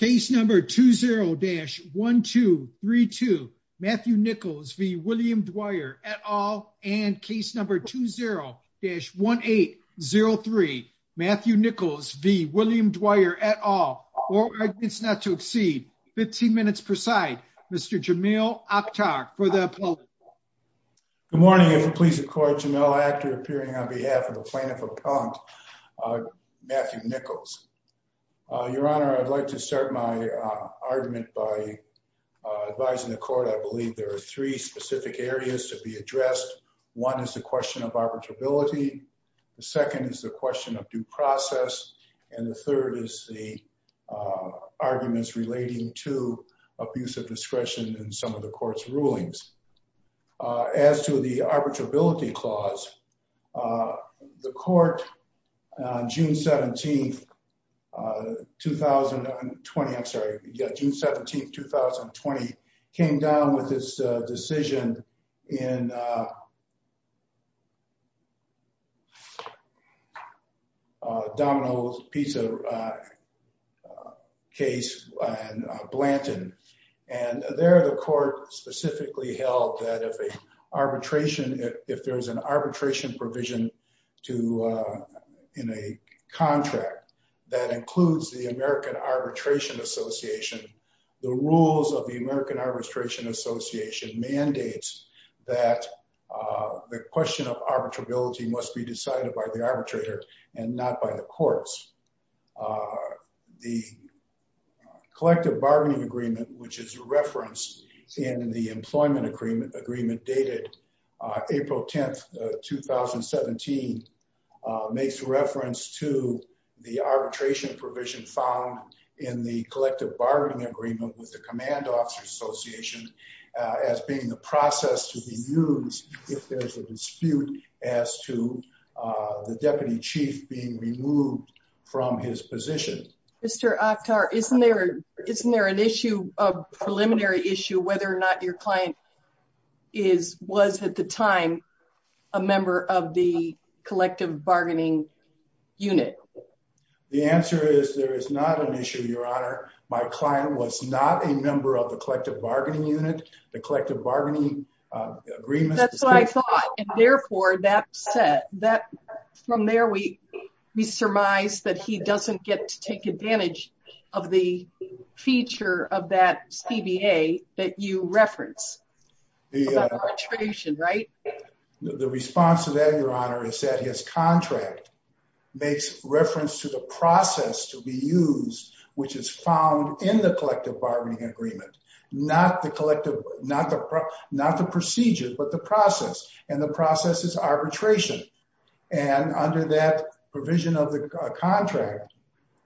Case number 20-1232 Matthew Nichols v. William Dwyer et al. And case number 20-1803 Matthew Nichols v. William Dwyer et al. All arguments not to exceed 15 minutes per side. Mr. Jamil Aptak for the appellate. Good morning and please accord Jamil Aptak appearing on behalf of the plaintiff appellant Matthew Nichols. Your honor I'd like to start my argument by advising the court. I believe there are three specific areas to be addressed. One is the question of arbitrability, the second is the question of due process, and the third is the arguments relating to abuse of discretion in some of the court's rulings. As to the arbitrability clause, the court on June 17, 2020, I'm sorry yeah June 17, 2020 came down with this decision in Domino's Pizza case and Blanton and there the court specifically held that if a arbitration if there's an arbitration provision to in a contract that includes the American Arbitration Association the rules of the American Arbitration Association mandates that the question of arbitrability must be decided by the arbitrator and not by the courts. The collective bargaining agreement which is a reference in the employment agreement agreement dated April 10, 2017 makes reference to the arbitration provision found in the collective bargaining agreement with the command officers association as being the process to be used if there's a dispute as to the deputy chief being removed from his position. Mr. Oktar isn't there isn't there an issue a preliminary issue whether or not your client is was at the time a member of the collective bargaining unit? The answer is there is not an issue your honor my client was not a member of the collective bargaining unit the collective bargaining agreement. That's what I thought and therefore that from there we we surmise that he doesn't get to take advantage of the feature of that CBA that you reference the arbitration right? The response to that your honor is that his contract makes reference to the process to be used which is found in the collective bargaining agreement not the collective not the not the procedure but the process and the process is arbitration and under that provision of the contract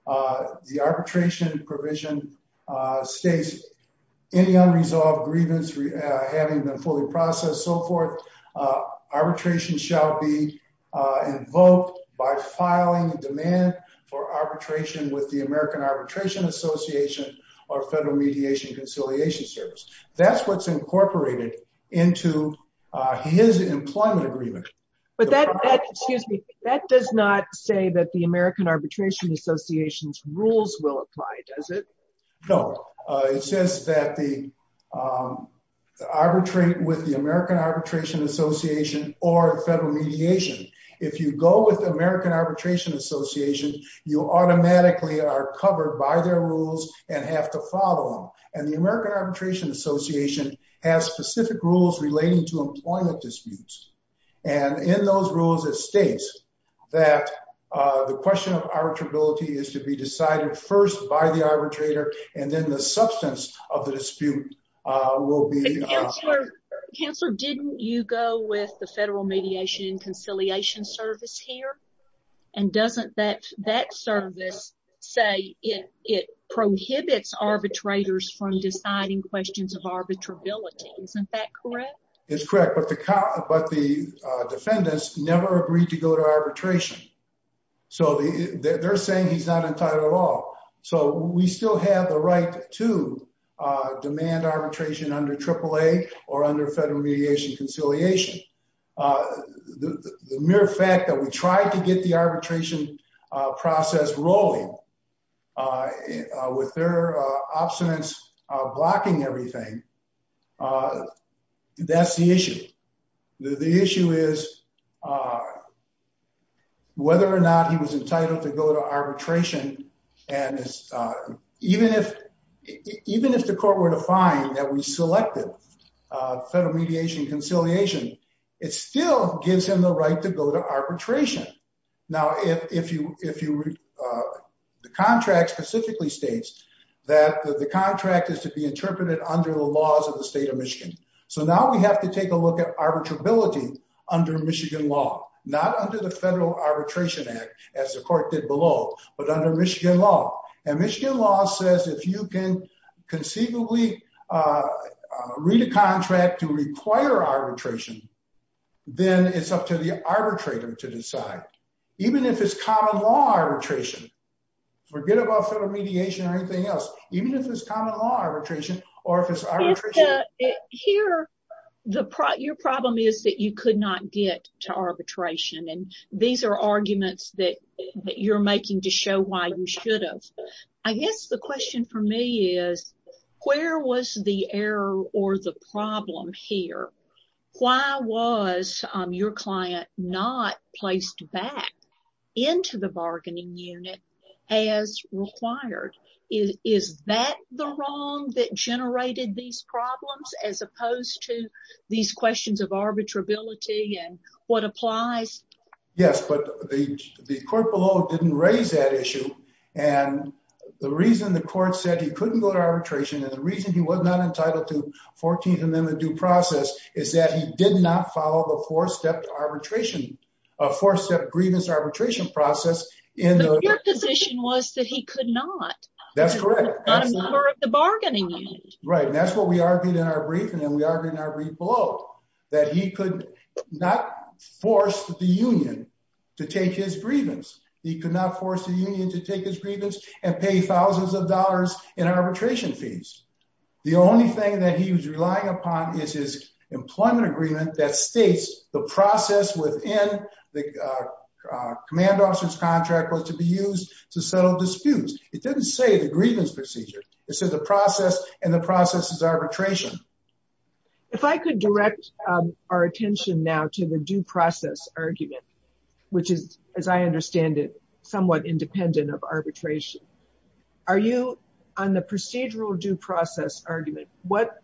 the arbitration provision states any unresolved grievance having been fully processed so forth arbitration shall be invoked by filing a demand for arbitration with the American Arbitration Association or Federal Mediation Conciliation Service that's what's incorporated into his employment agreement. But that that excuse me that does not say that the American Arbitration Association's rules will apply does it? No it says that the arbitrate with the American Arbitration Association or Federal Mediation if you go with the American Arbitration Association you automatically are covered by their rules and have to follow them and the American Arbitration Association has specific rules relating to employment disputes and in those rules it states that the question of arbitrability is to be decided first by the arbitrator and then the substance of the dispute will be. Counselor didn't you go with the Federal Mediation Conciliation Service here and doesn't that that service say it it prohibits arbitrators from deciding questions of arbitrability isn't that correct? It's correct but the but the defendants never agreed to go to arbitration so they're saying he's not entitled at all so we still have the right to demand arbitration under Triple A or under Federal Mediation Conciliation. The mere fact that we tried to get the arbitration process rolling with their obstinance blocking everything that's the issue. The issue is whether or not he was entitled to go to arbitration and even if even if the court were to find that we selected Federal Mediation Conciliation it still gives him the right to go to arbitration. Now if you if you the contract specifically states that the contract is to be interpreted under the laws of the state of Michigan so now we have to take a look at arbitrability under Michigan law not under the Federal Arbitration Act as the court did below but under Michigan law and Michigan law says if you can conceivably read a contract to require arbitration then it's up to the arbitrator to decide even if it's common law arbitration forget about Federal Mediation or anything else even if it's common law arbitration or if it's arbitration. Here the your problem is that you could not get to arbitration and these are arguments that you're making to show why you should have. I guess the question for me is where was the error or the problem here? Why was your client not placed back into the bargaining unit as required? Is that the wrong that generated these problems as opposed to these questions of arbitrability and what applies? Yes but the the court below didn't raise that issue and the reason the court said he couldn't go to arbitration and the reason he was not entitled to 14th amendment due process is that he did not follow the four-step arbitration a four-step grievance arbitration process. Your position was that he could not that's correct the bargaining right and that's what we argued in our brief and then we argued in our brief below that he could not force the union to take his grievance he could not force the union to take his grievance and pay thousands of dollars in arbitration fees. The only thing that he was relying upon is his employment agreement that states the process within the command officer's disputes. It didn't say the grievance procedure it said the process and the process is arbitration. If I could direct our attention now to the due process argument which is as I understand it somewhat independent of arbitration. Are you on the procedural due process argument what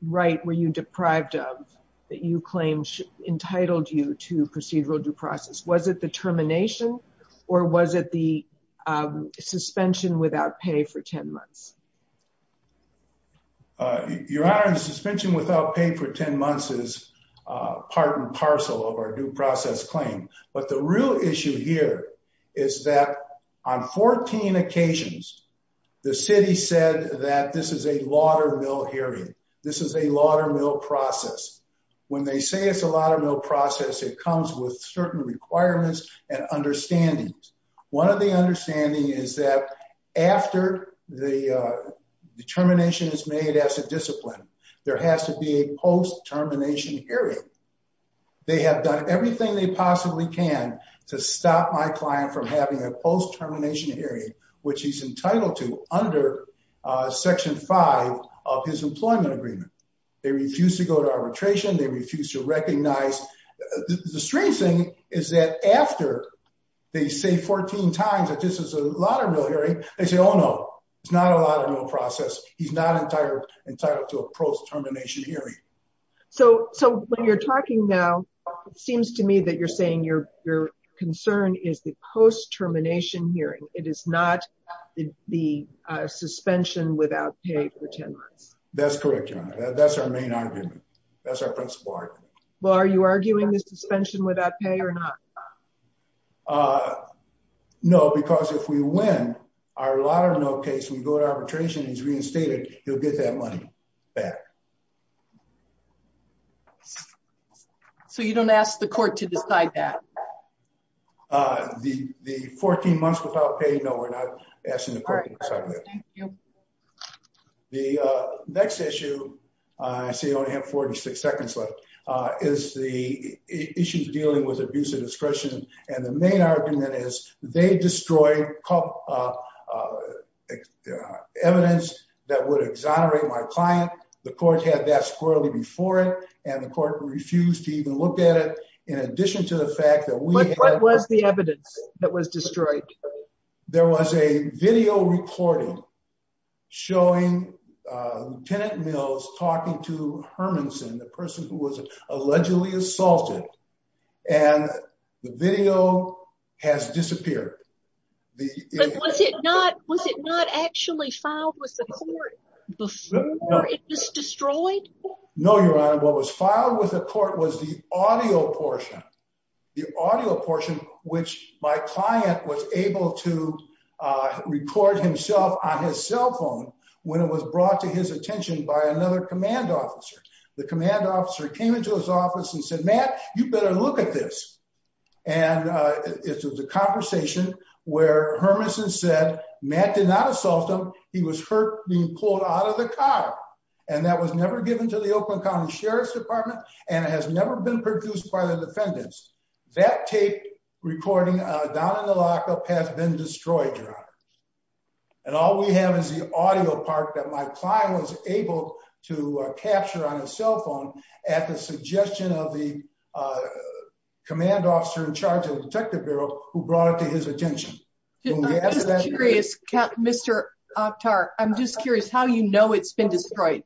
right were you deprived of that you claim entitled you to procedural due process? Was it the termination or was it the suspension without pay for 10 months? Your honor the suspension without pay for 10 months is part and parcel of our due process claim but the real issue here is that on 14 occasions the city said that this is a laudermill hearing this is a laudermill process. When they say it's a laudermill process it comes with certain requirements and understandings. One of the understanding is that after the determination is made as a discipline there has to be a post-termination hearing. They have done everything they possibly can to stop my client from having a post-termination hearing which he's entitled to under section 5 of his employment agreement. They refuse to go to arbitration they refuse to after they say 14 times that this is a laudermill hearing they say oh no it's not a laudermill process he's not entitled to a post-termination hearing. So when you're talking now it seems to me that you're saying your concern is the post-termination hearing it is not the suspension without pay for 10 months. That's correct your honor that's our main argument that's our principal argument. Well are you arguing the suspension without pay or not? No because if we win our laudermill case we go to arbitration he's reinstated he'll get that money back. So you don't ask the court to decide that? The 14 months without pay no we're not asking the court to decide that. The next issue I see I only have 46 seconds left is the issues dealing with abuse of discretion and the main argument is they destroyed evidence that would exonerate my client. The court had that squirrelly before it and the court refused to even look at it in addition to the fact that we. What was the evidence that was destroyed? There was a video recording showing Lieutenant Mills talking to Hermanson the person who was allegedly assaulted and the video has disappeared. Was it not actually filed with the court before it was destroyed? No your honor what was filed with the court was the audio portion. The audio portion which my client was able to record himself on his cell phone when it was brought to his attention by another command officer. The command officer came into his office and said Matt you better look at this and it was a conversation where Hermanson said Matt did not assault him he was hurt being pulled out of the car and that was never given to the Oakland County Sheriff's Department and it has never been produced by the defendants. That tape recording down in the lockup has been destroyed your honor and all we have is the audio part that my client was able to capture on his cell phone at the suggestion of the command officer in charge of the detective bureau who know it's been destroyed.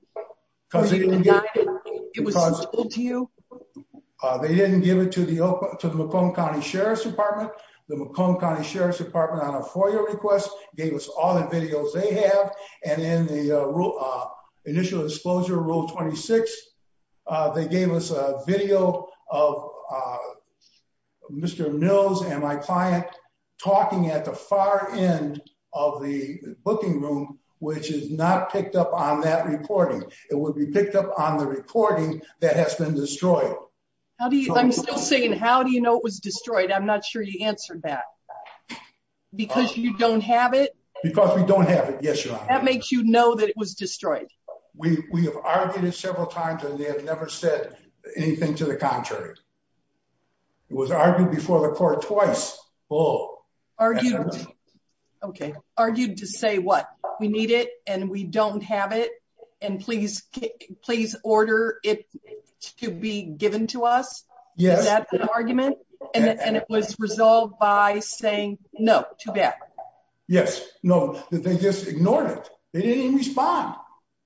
They didn't give it to the to the Macomb County Sheriff's Department. The Macomb County Sheriff's Department on a FOIA request gave us all the videos they have and in the initial disclosure rule 26 they gave us a video of Mr. Mills and my client talking at the far end of the booking room which is not picked up on that recording. It would be picked up on the recording that has been destroyed. How do you I'm still saying how do you know it was destroyed I'm not sure you answered that because you don't have it? Because we don't have it yes your honor. That makes you know that it was destroyed? We we have argued it several times and they have never said anything to the contrary. It was argued before the court twice. Okay argued to say what we need it and we don't have it and please please order it to be given to us. Is that an argument? And it was resolved by saying no too bad. Yes no they just ignored it. They didn't even respond.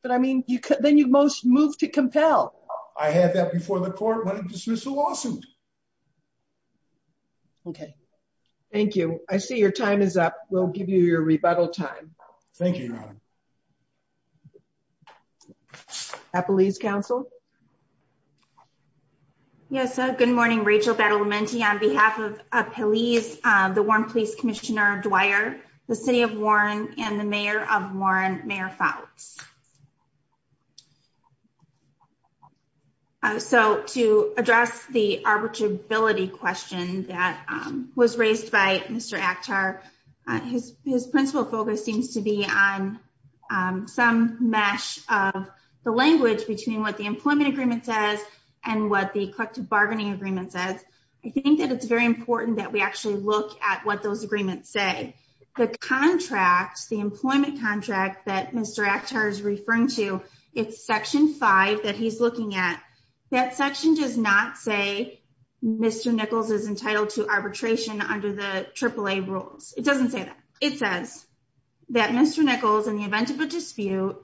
But I mean you could then you most move to compel. I had that before the court wanted to dismiss the lawsuit. Okay thank you. I see your time is up. We'll give you your rebuttal time. Thank you your honor. Appalese council. Yes good morning Rachel Battlementi. On behalf of Appalese the Warren Police Commissioner Dwyer, the City of Warren, and the Mayor of Warren Mayor Fouts. So to address the arbitrability question that was raised by Mr. Akhtar. His his principal focus seems to be on some mesh of the language between what the employment agreement says and what the collective bargaining agreement says. I think that it's very important that we actually look at what those agreements say. The contract the employment contract that Mr. Akhtar is referring to it's section five that he's looking at. That section does not say Mr. Nichols is entitled to arbitration under the AAA rules. It doesn't say that. It says that Mr. Nichols in the event of a dispute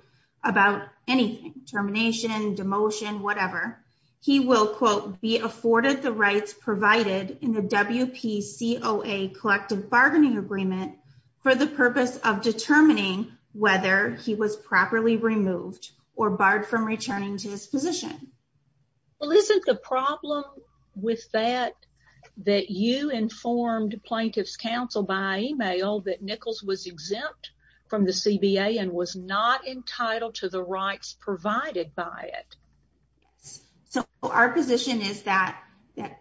about anything termination demotion whatever. He will quote be afforded the rights provided in the WPCOA collective bargaining agreement for the purpose of determining whether he was properly removed or barred from returning to his position. Well isn't the problem with that that you informed plaintiff's counsel by email that Nichols was exempt from the CBA and was not entitled to the rights provided by it. So our position is that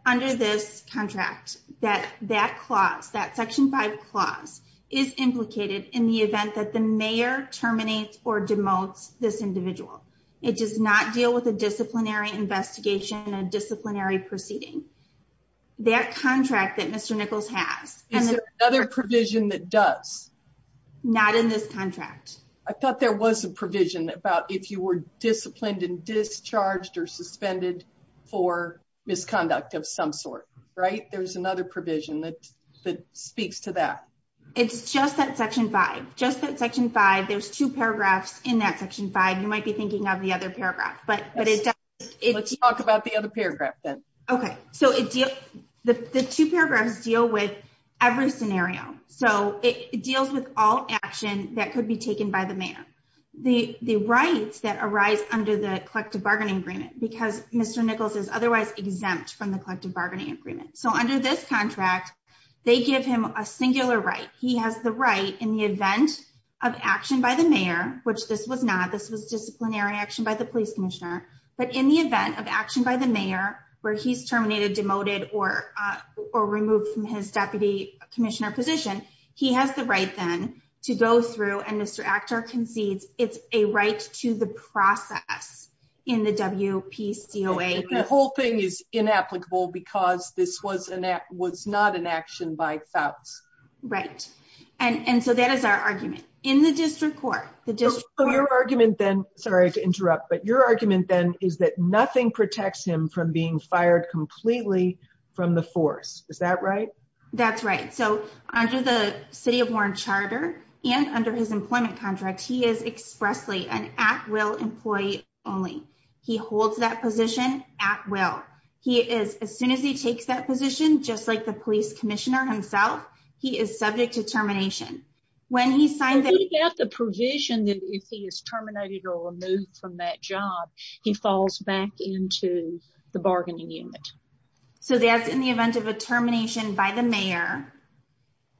under this contract that that clause that section five clause is implicated in the event that the mayor terminates or demotes this individual. It does not deal with a disciplinary investigation and disciplinary proceeding. That contract that Mr. Nichols has. Is there another provision that does? Not in this contract. I thought there was a provision about if you were disciplined and of some sort right. There's another provision that speaks to that. It's just that section five. Just that section five. There's two paragraphs in that section five. You might be thinking of the other paragraph but but it's. Let's talk about the other paragraph then. Okay so it deals the two paragraphs deal with every scenario. So it deals with all action that could be taken by the mayor. The the rights that arise under the collective bargaining agreement because Mr. Nichols is exempt from the collective bargaining agreement. So under this contract they give him a singular right. He has the right in the event of action by the mayor which this was not. This was disciplinary action by the police commissioner. But in the event of action by the mayor where he's terminated demoted or or removed from his deputy commissioner position. He has the right then to go through and concedes. It's a right to the process in the WPCOA. The whole thing is inapplicable because this was an act was not an action by thoughts. Right and and so that is our argument in the district court. The district. So your argument then sorry to interrupt but your argument then is that nothing protects him from being fired completely from the force. Is that right? That's right. So under the city of Warren charter and under his employment contract he is expressly an at-will employee only. He holds that position at will. He is as soon as he takes that position just like the police commissioner himself he is subject to termination. When he signed the provision that if he is terminated or removed from that job he falls back into the bargaining unit. So that's in the event of a termination by the mayor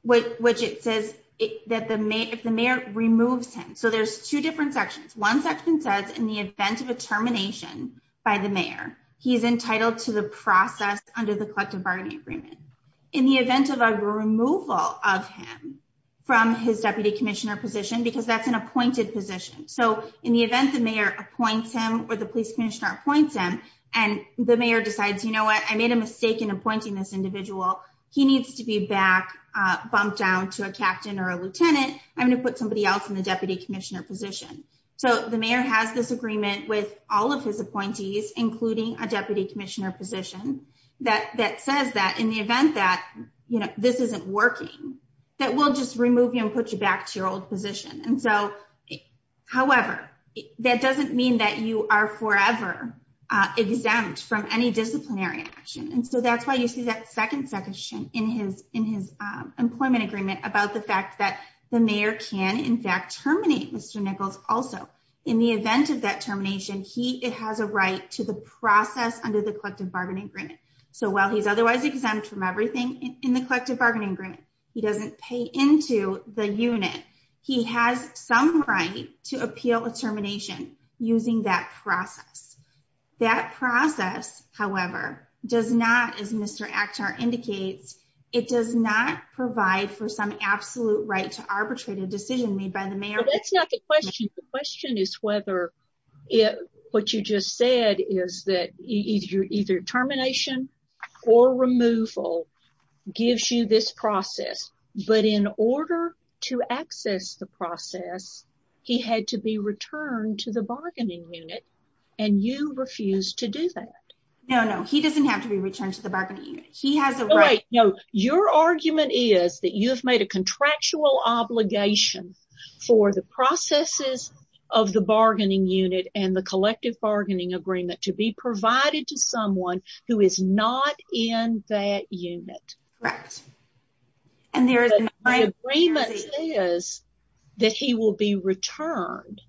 which it says that the mayor if the mayor removes him. So there's two different sections. One section says in the event of a termination by the mayor he's entitled to the process under the collective bargaining agreement. In the event of a removal of him from his deputy commissioner position because that's an appointed position. So in the event the mayor appoints him or the police commissioner appoints him and the mayor decides you know what I made a mistake in appointing this individual. He needs to be back bumped down to a captain or a lieutenant. I'm going to put somebody else in the deputy commissioner position. So the mayor has this agreement with all of his appointees including a deputy commissioner position that that says that in the event that you know this isn't working that will just remove you and put you back to your old position. And so however that doesn't mean that you are forever exempt from any disciplinary action. And so that's why you see that second section in his employment agreement about the fact that the mayor can in fact terminate Mr. Nichols also. In the event of that termination he has a right to the process under the collective bargaining agreement. So while he's otherwise exempt from everything in the collective bargaining agreement he doesn't pay into the unit. He has some right to appeal a using that process. That process however does not as Mr. Akhtar indicates it does not provide for some absolute right to arbitrate a decision made by the mayor. That's not the question. The question is whether it what you just said is that either either termination or removal gives you this to the bargaining unit and you refuse to do that. No no he doesn't have to be returned to the bargaining unit. He has a right. No your argument is that you have made a contractual obligation for the processes of the bargaining unit and the collective bargaining agreement to be provided to someone who is not in that unit. Correct. And there is an agreement is that he will be returned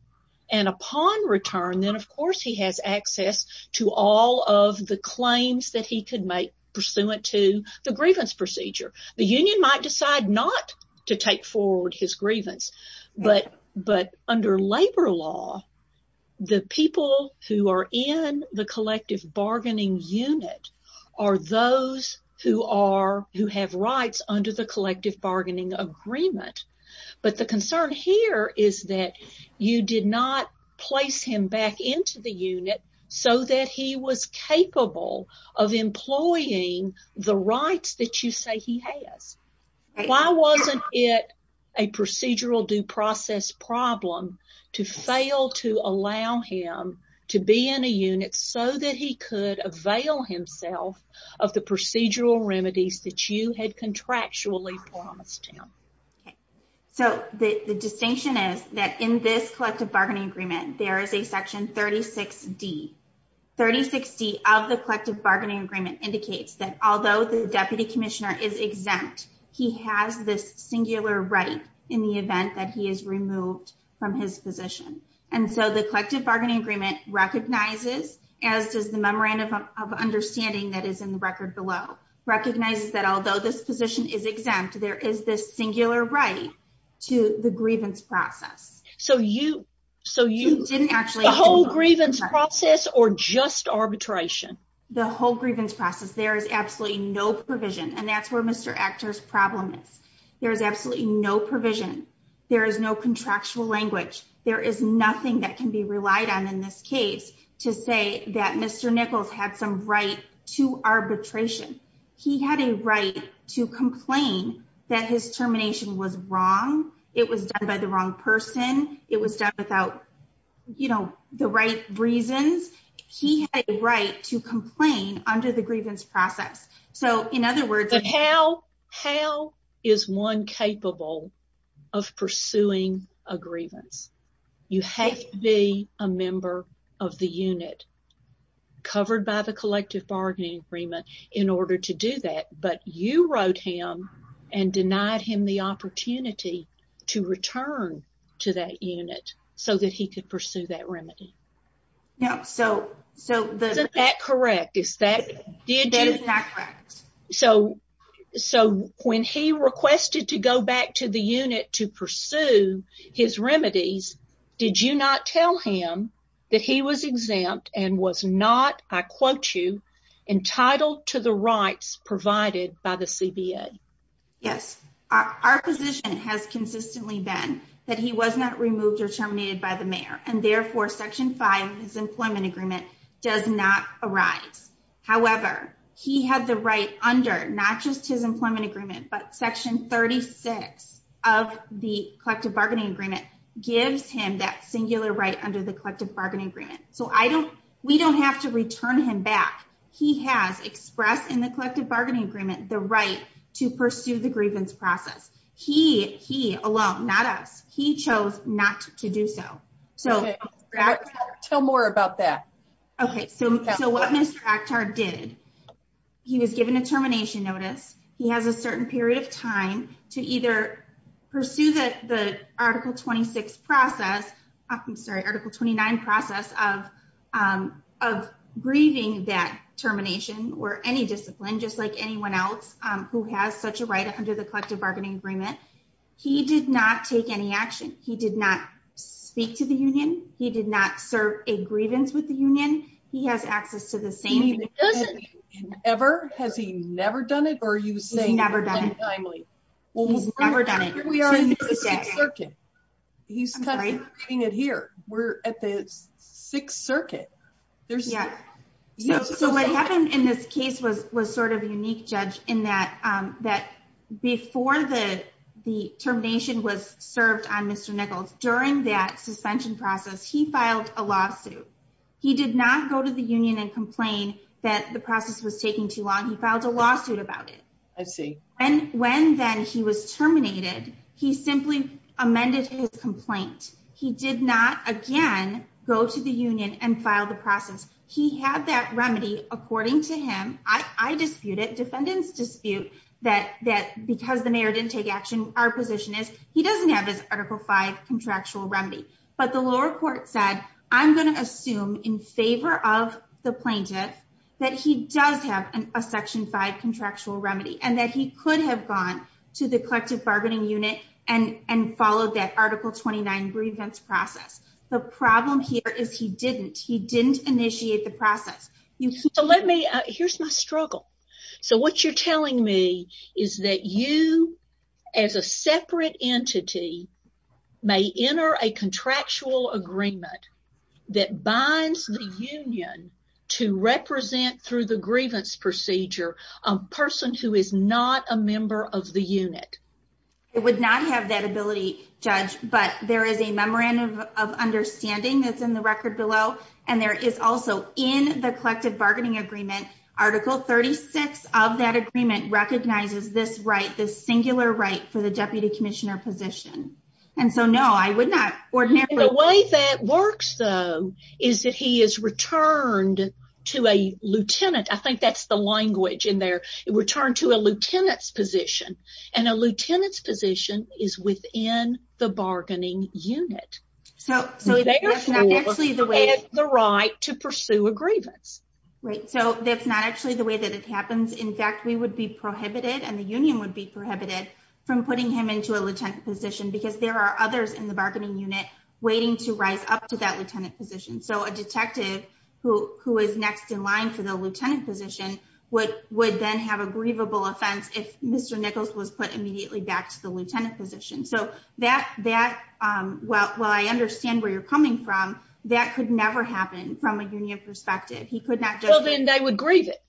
and upon return then of course he has access to all of the claims that he could make pursuant to the grievance procedure. The union might decide not to take forward his grievance but but under labor law the people who are in the collective bargaining unit are those who are who have rights under the collective bargaining agreement. But the concern here is that you did not place him back into the unit so that he was capable of employing the rights that you say he has. Why wasn't it a procedural due process problem to fail to allow him to be in a unit so that he could avail himself of the procedural remedies that you had contractually promised him? So the distinction is that in this collective bargaining agreement there is a section 36d. 36d of the collective bargaining agreement indicates that although the deputy commissioner is exempt he has this singular right in the event that he is removed from his position. And so the collective bargaining agreement recognizes as does the memorandum of understanding that is in the record below recognizes that although this position is exempt there is this singular right to the grievance process. So you so you didn't actually the whole grievance process or just arbitration? The whole grievance process there is absolutely no provision and that's where Mr. Actor's problem is. There is absolutely no provision. There is no contractual language. There is nothing that can be relied on in this case to say that Mr. Nichols had some right to arbitration. He had a right to complain that his termination was wrong. It was done by the wrong person. It was done without you know the right reasons. He had a right to complain under the grievance. You have to be a member of the unit covered by the collective bargaining agreement in order to do that. But you wrote him and denied him the opportunity to return to that unit so that he could pursue that remedy. Yeah so isn't that correct? That is not correct. So when he requested to go back to the unit to pursue his remedies did you not tell him that he was exempt and was not I quote you entitled to the rights provided by the CBA? Yes our position has consistently been that he was not removed or terminated by the mayor and therefore section 5 of his employment agreement does not arise. However he had the right under not just his employment agreement but section 36 of the collective bargaining agreement gives him that singular right under the collective bargaining agreement. So I don't we don't have to return him back. He has expressed in the collective bargaining agreement the right to pursue the grievance process. He alone not us he chose not to do so. So tell more about that. Okay so what Mr. Akhtar did he was given a termination notice. He has a certain period of time to either pursue the article 26 process I'm sorry article 29 process of grieving that termination or any discipline just like anyone else who has such a right under the collective bargaining agreement. He did not take any action. He did not speak to the union. He did not serve a grievance with the union. He has access to the same ever has he never done it ever done it. He's cutting it here. We're at the sixth circuit. So what happened in this case was sort of unique judge in that before the termination was served on Mr. Nichols during that suspension process he filed a lawsuit. He did not go to the union and complain that the process was and when then he was terminated he simply amended his complaint. He did not again go to the union and file the process. He had that remedy according to him. I dispute it defendants dispute that that because the mayor didn't take action our position is he doesn't have his article 5 contractual remedy but the lower court said I'm going to assume in favor of the plaintiff that he does have a section 5 contractual remedy and that he could have gone to the collective bargaining unit and and followed that article 29 grievance process. The problem here is he didn't he didn't initiate the process. So let me here's my struggle. So what you're telling me is that you as a separate entity may enter a contractual agreement that binds the union to represent through the grievance procedure a person who is not a member of the unit. It would not have that ability judge but there is a memorandum of understanding that's in the record below and there is also in the collective bargaining agreement article 36 of that agreement recognizes this right this singular right for the deputy commissioner position and so no I would not the way that works though is that he is returned to a lieutenant I think that's the language in there it returned to a lieutenant's position and a lieutenant's position is within the bargaining unit so so it's actually the way it's the right to pursue a grievance right so that's not actually the way that it happens in fact we would be prohibited and the union would be prohibited from putting him into a lieutenant position because there are others in the bargaining unit waiting to rise up to that lieutenant position so a detective who who is next in line for the lieutenant position would would then have a grievable offense if Mr. Nichols was put immediately back to the lieutenant position so that that well well I understand where you're coming from that could never happen from a union perspective he could not well then they would it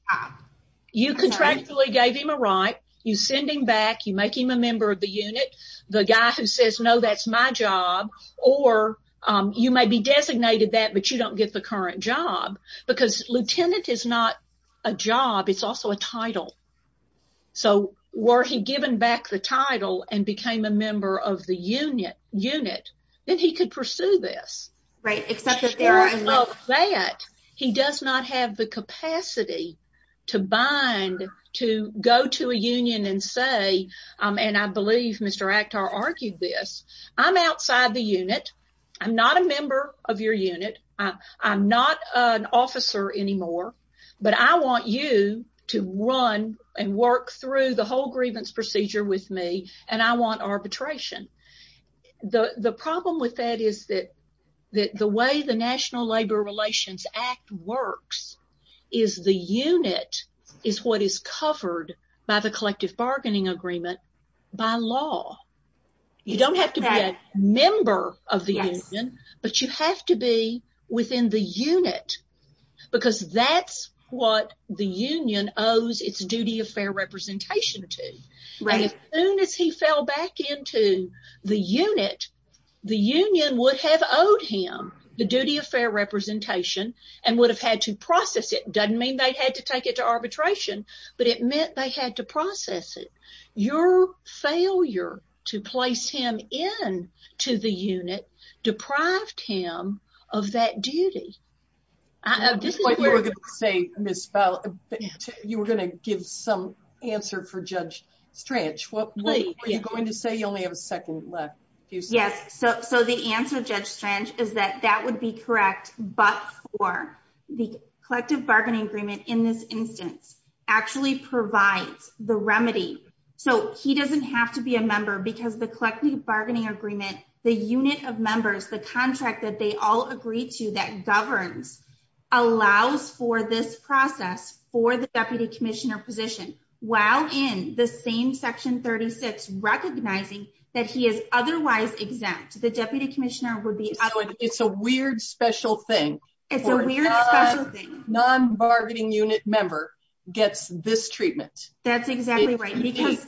you contractually gave him a right you send him back you make him a member of the unit the guy who says no that's my job or you may be designated that but you don't get the current job because lieutenant is not a job it's also a title so were he given back the title and became a member of the unit then he could pursue this right except that he does not have the capacity to bind to go to a union and say um and I believe Mr. Actar argued this I'm outside the unit I'm not a member of your unit I'm not an officer anymore but I want you to run and work through the whole grievance procedure with me and I want arbitration the the problem with that is that that the way the National Labor Relations Act works is the unit is what is covered by the collective bargaining agreement by law you don't have to be a member of the union but you have to be within the unit because that's what the union owes its duty of fair representation to right as soon as he fell back into the unit the union would have owed him the duty of fair representation and would have had to process it doesn't mean they had to take it to arbitration but it meant they had to process it your failure to place him in to the unit deprived him of that duty you were going to give some answer for Judge Strange what were you going to say you only have a second left yes so so the answer Judge Strange is that that would be correct but for the collective bargaining agreement in this instance actually provides the remedy so he doesn't have to be a member because the collective bargaining agreement the unit of members the contract that they all agree to that governs allows for this process for the deputy commissioner position while in the same section 36 recognizing that he is otherwise exempt the deputy commissioner it's a weird special thing it's a weird special thing non-bargaining unit member gets this treatment that's exactly right because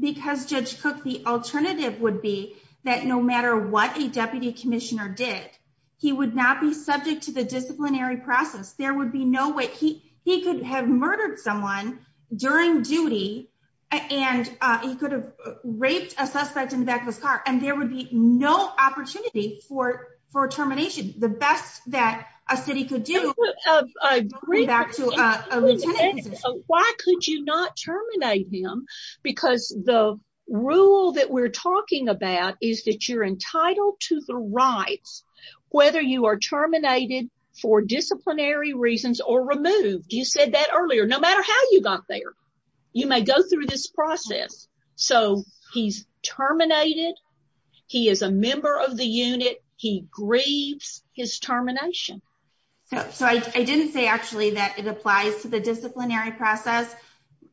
because Judge Cook the alternative would be that no matter what a deputy commissioner did he would not be subject to the disciplinary process there would be no way he he could have murdered someone during duty and he could have raped a for termination the best that a city could do why could you not terminate him because the rule that we're talking about is that you're entitled to the rights whether you are terminated for disciplinary reasons or removed you said that earlier no matter how you got there you may go through this process so he's terminated he is a member of the unit he grieves his termination so so i i didn't say actually that it applies to the disciplinary process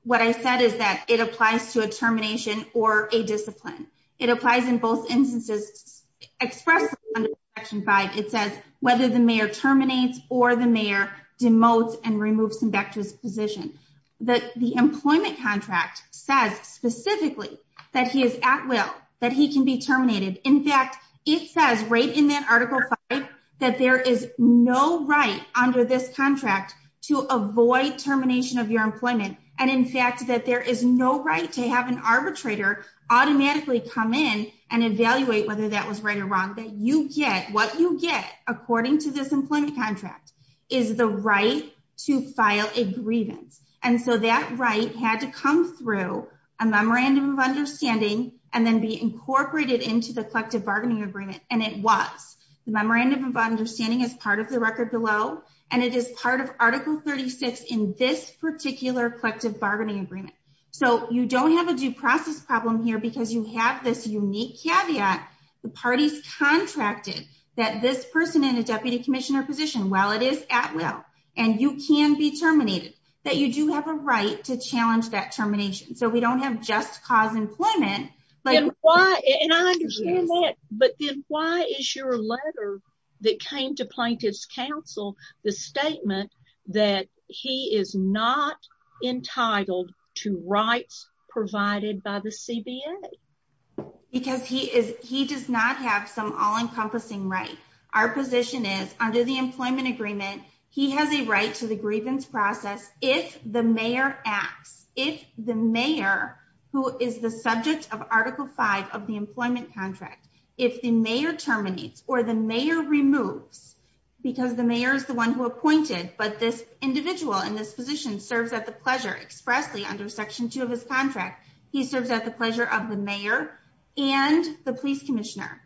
what i said is that it applies to a termination or a discipline it applies in both instances expressed under section 5 it says whether the mayor terminates or the mayor demotes and removes him back to his position that the employment contract says specifically that he is at will that he can be terminated in fact it says right in that article 5 that there is no right under this contract to avoid termination of your employment and in fact that there is no right to have an arbitrator automatically come in and evaluate whether that was right or wrong that you get what you get according to this employment contract is the right to file a grievance and so that right had to come through a memorandum of understanding and then be incorporated into the collective bargaining agreement and it was the memorandum of understanding as part of the record below and it is part of article 36 in this particular collective bargaining agreement so you don't have a due process problem here because you have this unique caveat the party's contracted that this person in a deputy commissioner position while it is at will and you can be terminated that you do have a right to challenge that termination so we don't have just cause employment but why and i understand that but then why is your letter that came to plaintiff's counsel the statement that he is not entitled to rights provided by the cba because he is he does not have some all-encompassing right our position is under the employment agreement he has a right to the grievance process if the mayor acts if the mayor who is the subject of article 5 of the employment contract if the mayor terminates or the mayor removes because the mayor is the one who appointed but this individual in this position serves at the pleasure expressly under section 2 of his contract he serves at the pleasure of the mayor and the police commissioner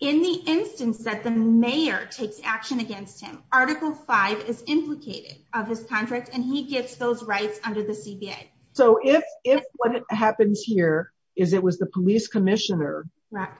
in the instance that the mayor takes action against him article 5 is implicated of his contract and he gets those rights under the cba so if if what happens here is it was the police commissioner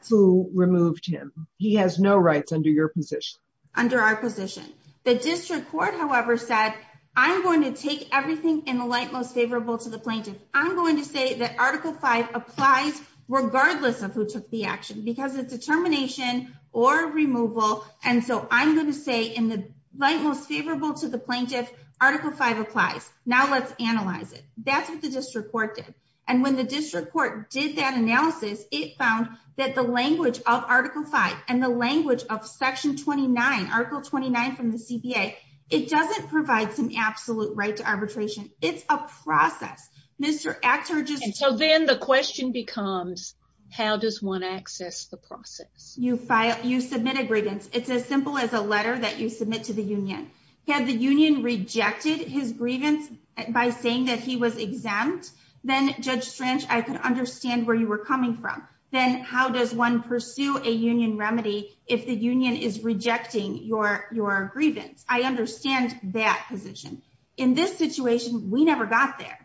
who removed him he has no rights under your position under our position the district court however said i'm going to take everything in the light most favorable to the plaintiff i'm going to say that article 5 applies regardless of who took the action because it's a termination or removal and so i'm going to say in the light most favorable to the plaintiff article 5 applies now let's analyze it that's what the district court did and when the district court did that analysis it found that the language of article 5 and the language of section 29 article 29 from the cba it doesn't provide some absolute right to arbitration it's a process mr actor just so then the question becomes how does one access the process you file you submit a grievance it's as simple as a letter that you submit to the union had the union rejected his grievance by saying that he was exempt then judge strange i could understand where you were coming from then how does one pursue a union remedy if the union is rejecting your your grievance i understand that position in this situation we never got there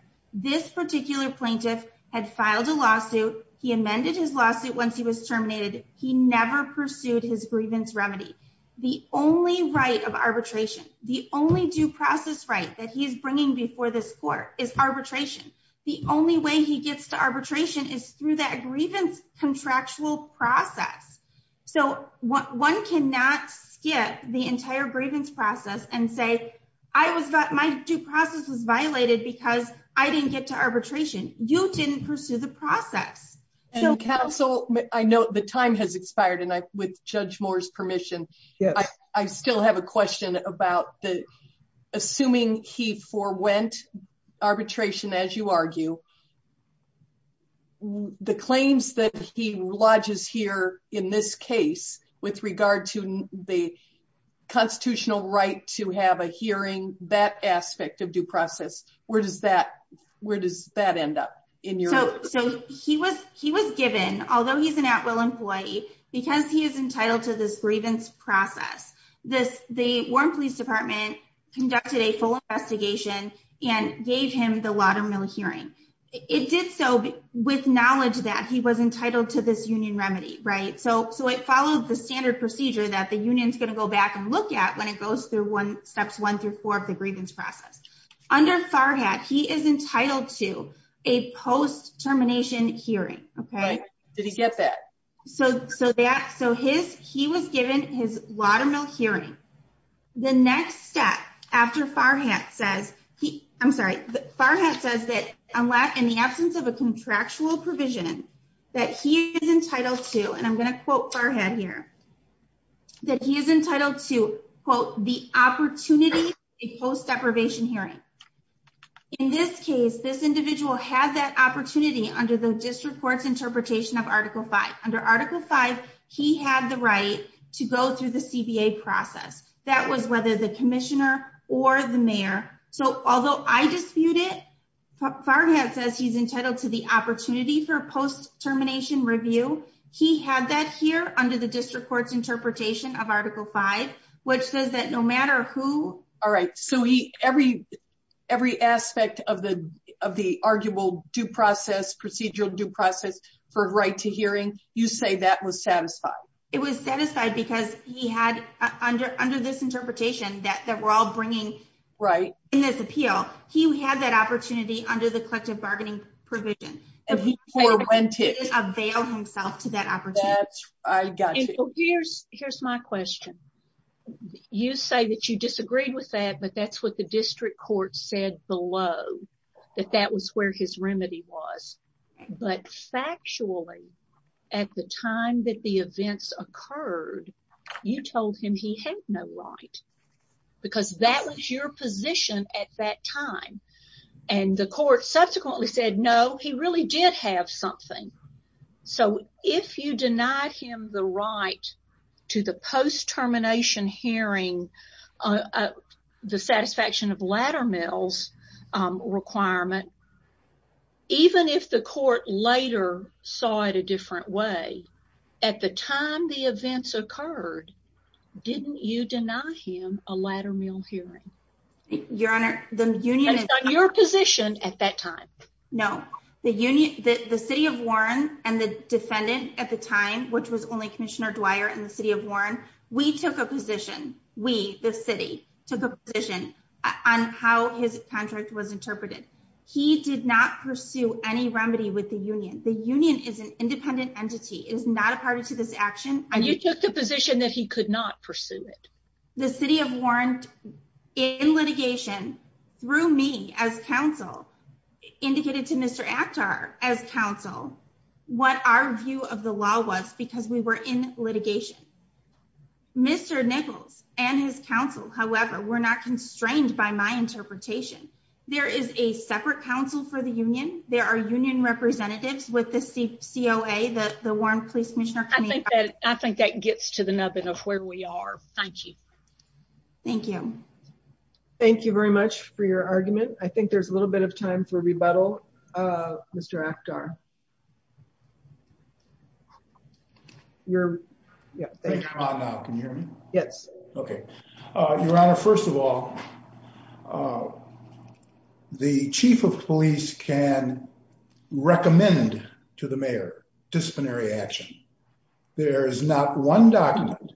this particular plaintiff had filed a lawsuit he amended his lawsuit once he was terminated he never pursued his grievance remedy the only right of arbitration the only due process right that he is bringing before this court is arbitration the only way he gets to arbitration is through that grievance contractual process so what one cannot skip the entire grievance process and say i was that my due process was violated because i didn't get to arbitration you didn't pursue the process and counsel i know the time has expired and i with judge moore's permission yes i still have a question about the assuming he forewent arbitration as you argue the claims that he lodges here in this case with regard to the constitutional right to have a hearing that aspect of due process where does that where does that end up in your so so he was he was given although he's an at-will employee because he is entitled to this process this the warren police department conducted a full investigation and gave him the lot of mill hearing it did so with knowledge that he was entitled to this union remedy right so so it followed the standard procedure that the union's going to go back and look at when it goes through one steps one through four of the grievance process under farhat he is entitled to a post his lot of mill hearing the next step after farhat says he i'm sorry farhat says that unless in the absence of a contractual provision that he is entitled to and i'm going to quote farhat here that he is entitled to quote the opportunity a post deprivation hearing in this case this individual had that opportunity under the district court's interpretation of article 5 he had the right to go through the cba process that was whether the commissioner or the mayor so although i dispute it farhat says he's entitled to the opportunity for post termination review he had that here under the district court's interpretation of article 5 which says that no matter who all right so he every every aspect of the of the arguable due process procedural due process for right to hearing you say that was satisfied it was satisfied because he had under under this interpretation that that we're all bringing right in this appeal he had that opportunity under the collective bargaining provision avail himself to that opportunity i got here's here's my question you say that you disagreed with that but that's what the district court said below that that was where his remedy was but factually at the time that the events occurred you told him he had no right because that was your position at that time and the court subsequently said no he really did have something so if you the satisfaction of ladder mills requirement even if the court later saw it a different way at the time the events occurred didn't you deny him a ladder mill hearing your honor the union your position at that time no the union the city of warren and the defendant at the time which was in the city of warren we took a position we the city took a position on how his contract was interpreted he did not pursue any remedy with the union the union is an independent entity it is not a party to this action and you took the position that he could not pursue it the city of warren in litigation through me as council indicated to mr aktar as council what our view of the law was because we were in litigation mr nichols and his council however we're not constrained by my interpretation there is a separate council for the union there are union representatives with the coa that the warren police commissioner i think that i think that gets to the nubbin of where we are thank you thank you thank you very much for your argument i think there's a little bit of time for rebuttal uh mr aktar you're yeah thank you can you hear me yes okay uh your honor first of all the chief of police can recommend to the mayor disciplinary action there is not one document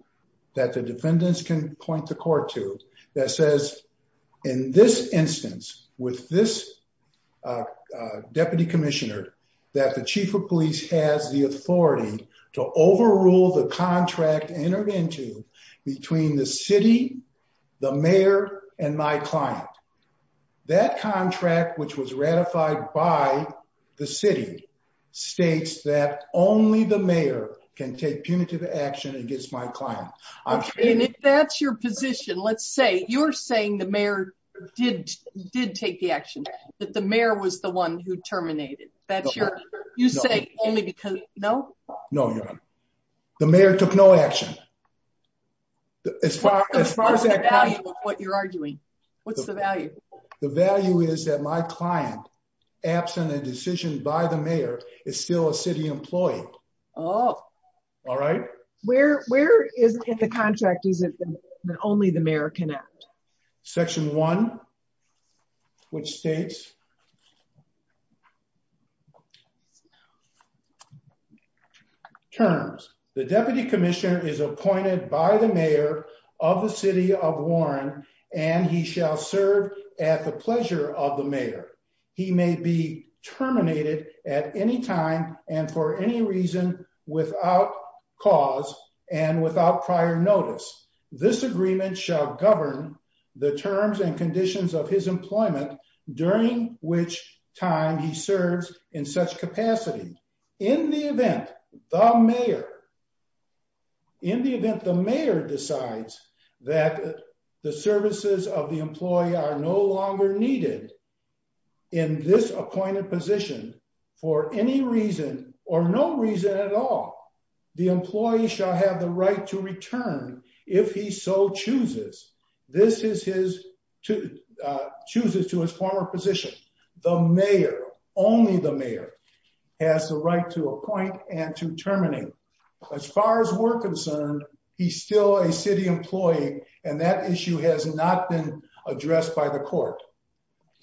that the defendants can point the court to that says in this instance with this deputy commissioner that the chief of police has the authority to overrule the contract entered into between the city the mayor and my client that contract which was ratified by the city states that only the mayor can take punitive action against my client okay and if that's your position let's say you're saying the mayor did did take the action that the mayor was the one who terminated that's your you say only because no no your honor the mayor took no action as far as far as the value of what you're arguing what's the value the value is that my client absent a decision by the mayor is still a city employee oh all right where where is it the contract isn't that only the mayor can act section one which states terms the deputy commissioner is appointed by the mayor of the city of warren and he shall serve at the pleasure of the mayor he may be terminated at any time and for any reason without cause and without prior notice this agreement shall govern the terms and conditions of his employment during which time he serves in such capacity in the event the mayor in the event the mayor decides that the services of the employee are no longer needed in this appointed position for any reason or no reason at all the employee shall have the right to return if he so chooses this is his to chooses to his former position the mayor only the mayor has the right to appoint and to terminate as far as we're concerned he's still a city employee and that issue has not been addressed by the court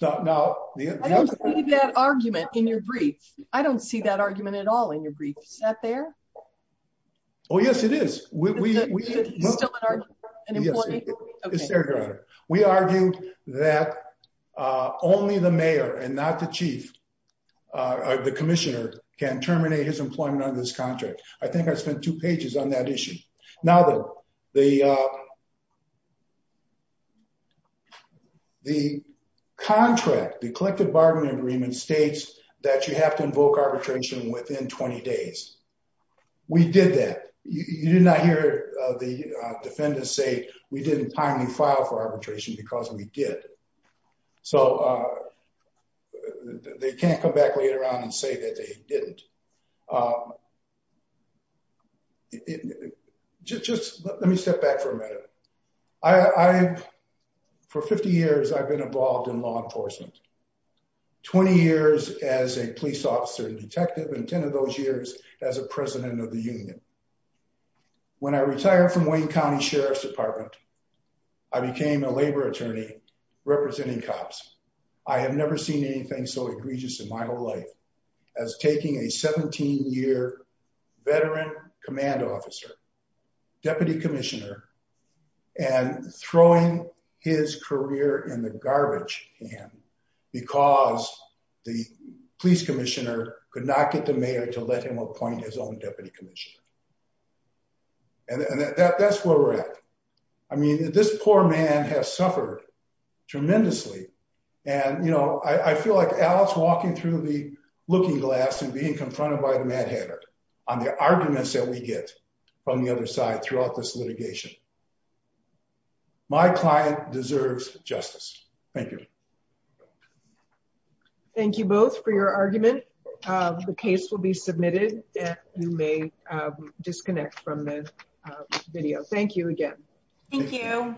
now i don't see that argument in your brief i don't see that argument at all in your brief is that there oh yes it is we we still an important we argued that uh only the mayor and not the chief uh the commissioner can terminate his employment under this contract i think i spent two pages on that issue now the the uh the contract the collective bargaining agreement states that you have to invoke arbitration within 20 days we did that you did not hear the defendants say we didn't finally file for arbitration because we did so uh they can't come back later on and say that they didn't uh just let me step back for a minute i i've for 50 years i've been involved in law enforcement 20 years as a police officer detective and 10 of those years as a president of the union when i retired from wayne county sheriff's department i became a labor attorney representing cops i have never seen anything so egregious in my whole life as taking a 17 year veteran command officer deputy commissioner and throwing his career in the garbage can because the police commissioner could not get the mayor to let him appoint his own deputy commissioner and that that's where we're at i mean this poor man has suffered tremendously and you know i feel like alex walking through the looking glass and being confronted by the mad hatter on the arguments that we get from the other side throughout this litigation my client deserves justice thank you thank you both for your argument the case will be submitted and you may disconnect from the video thank you again thank you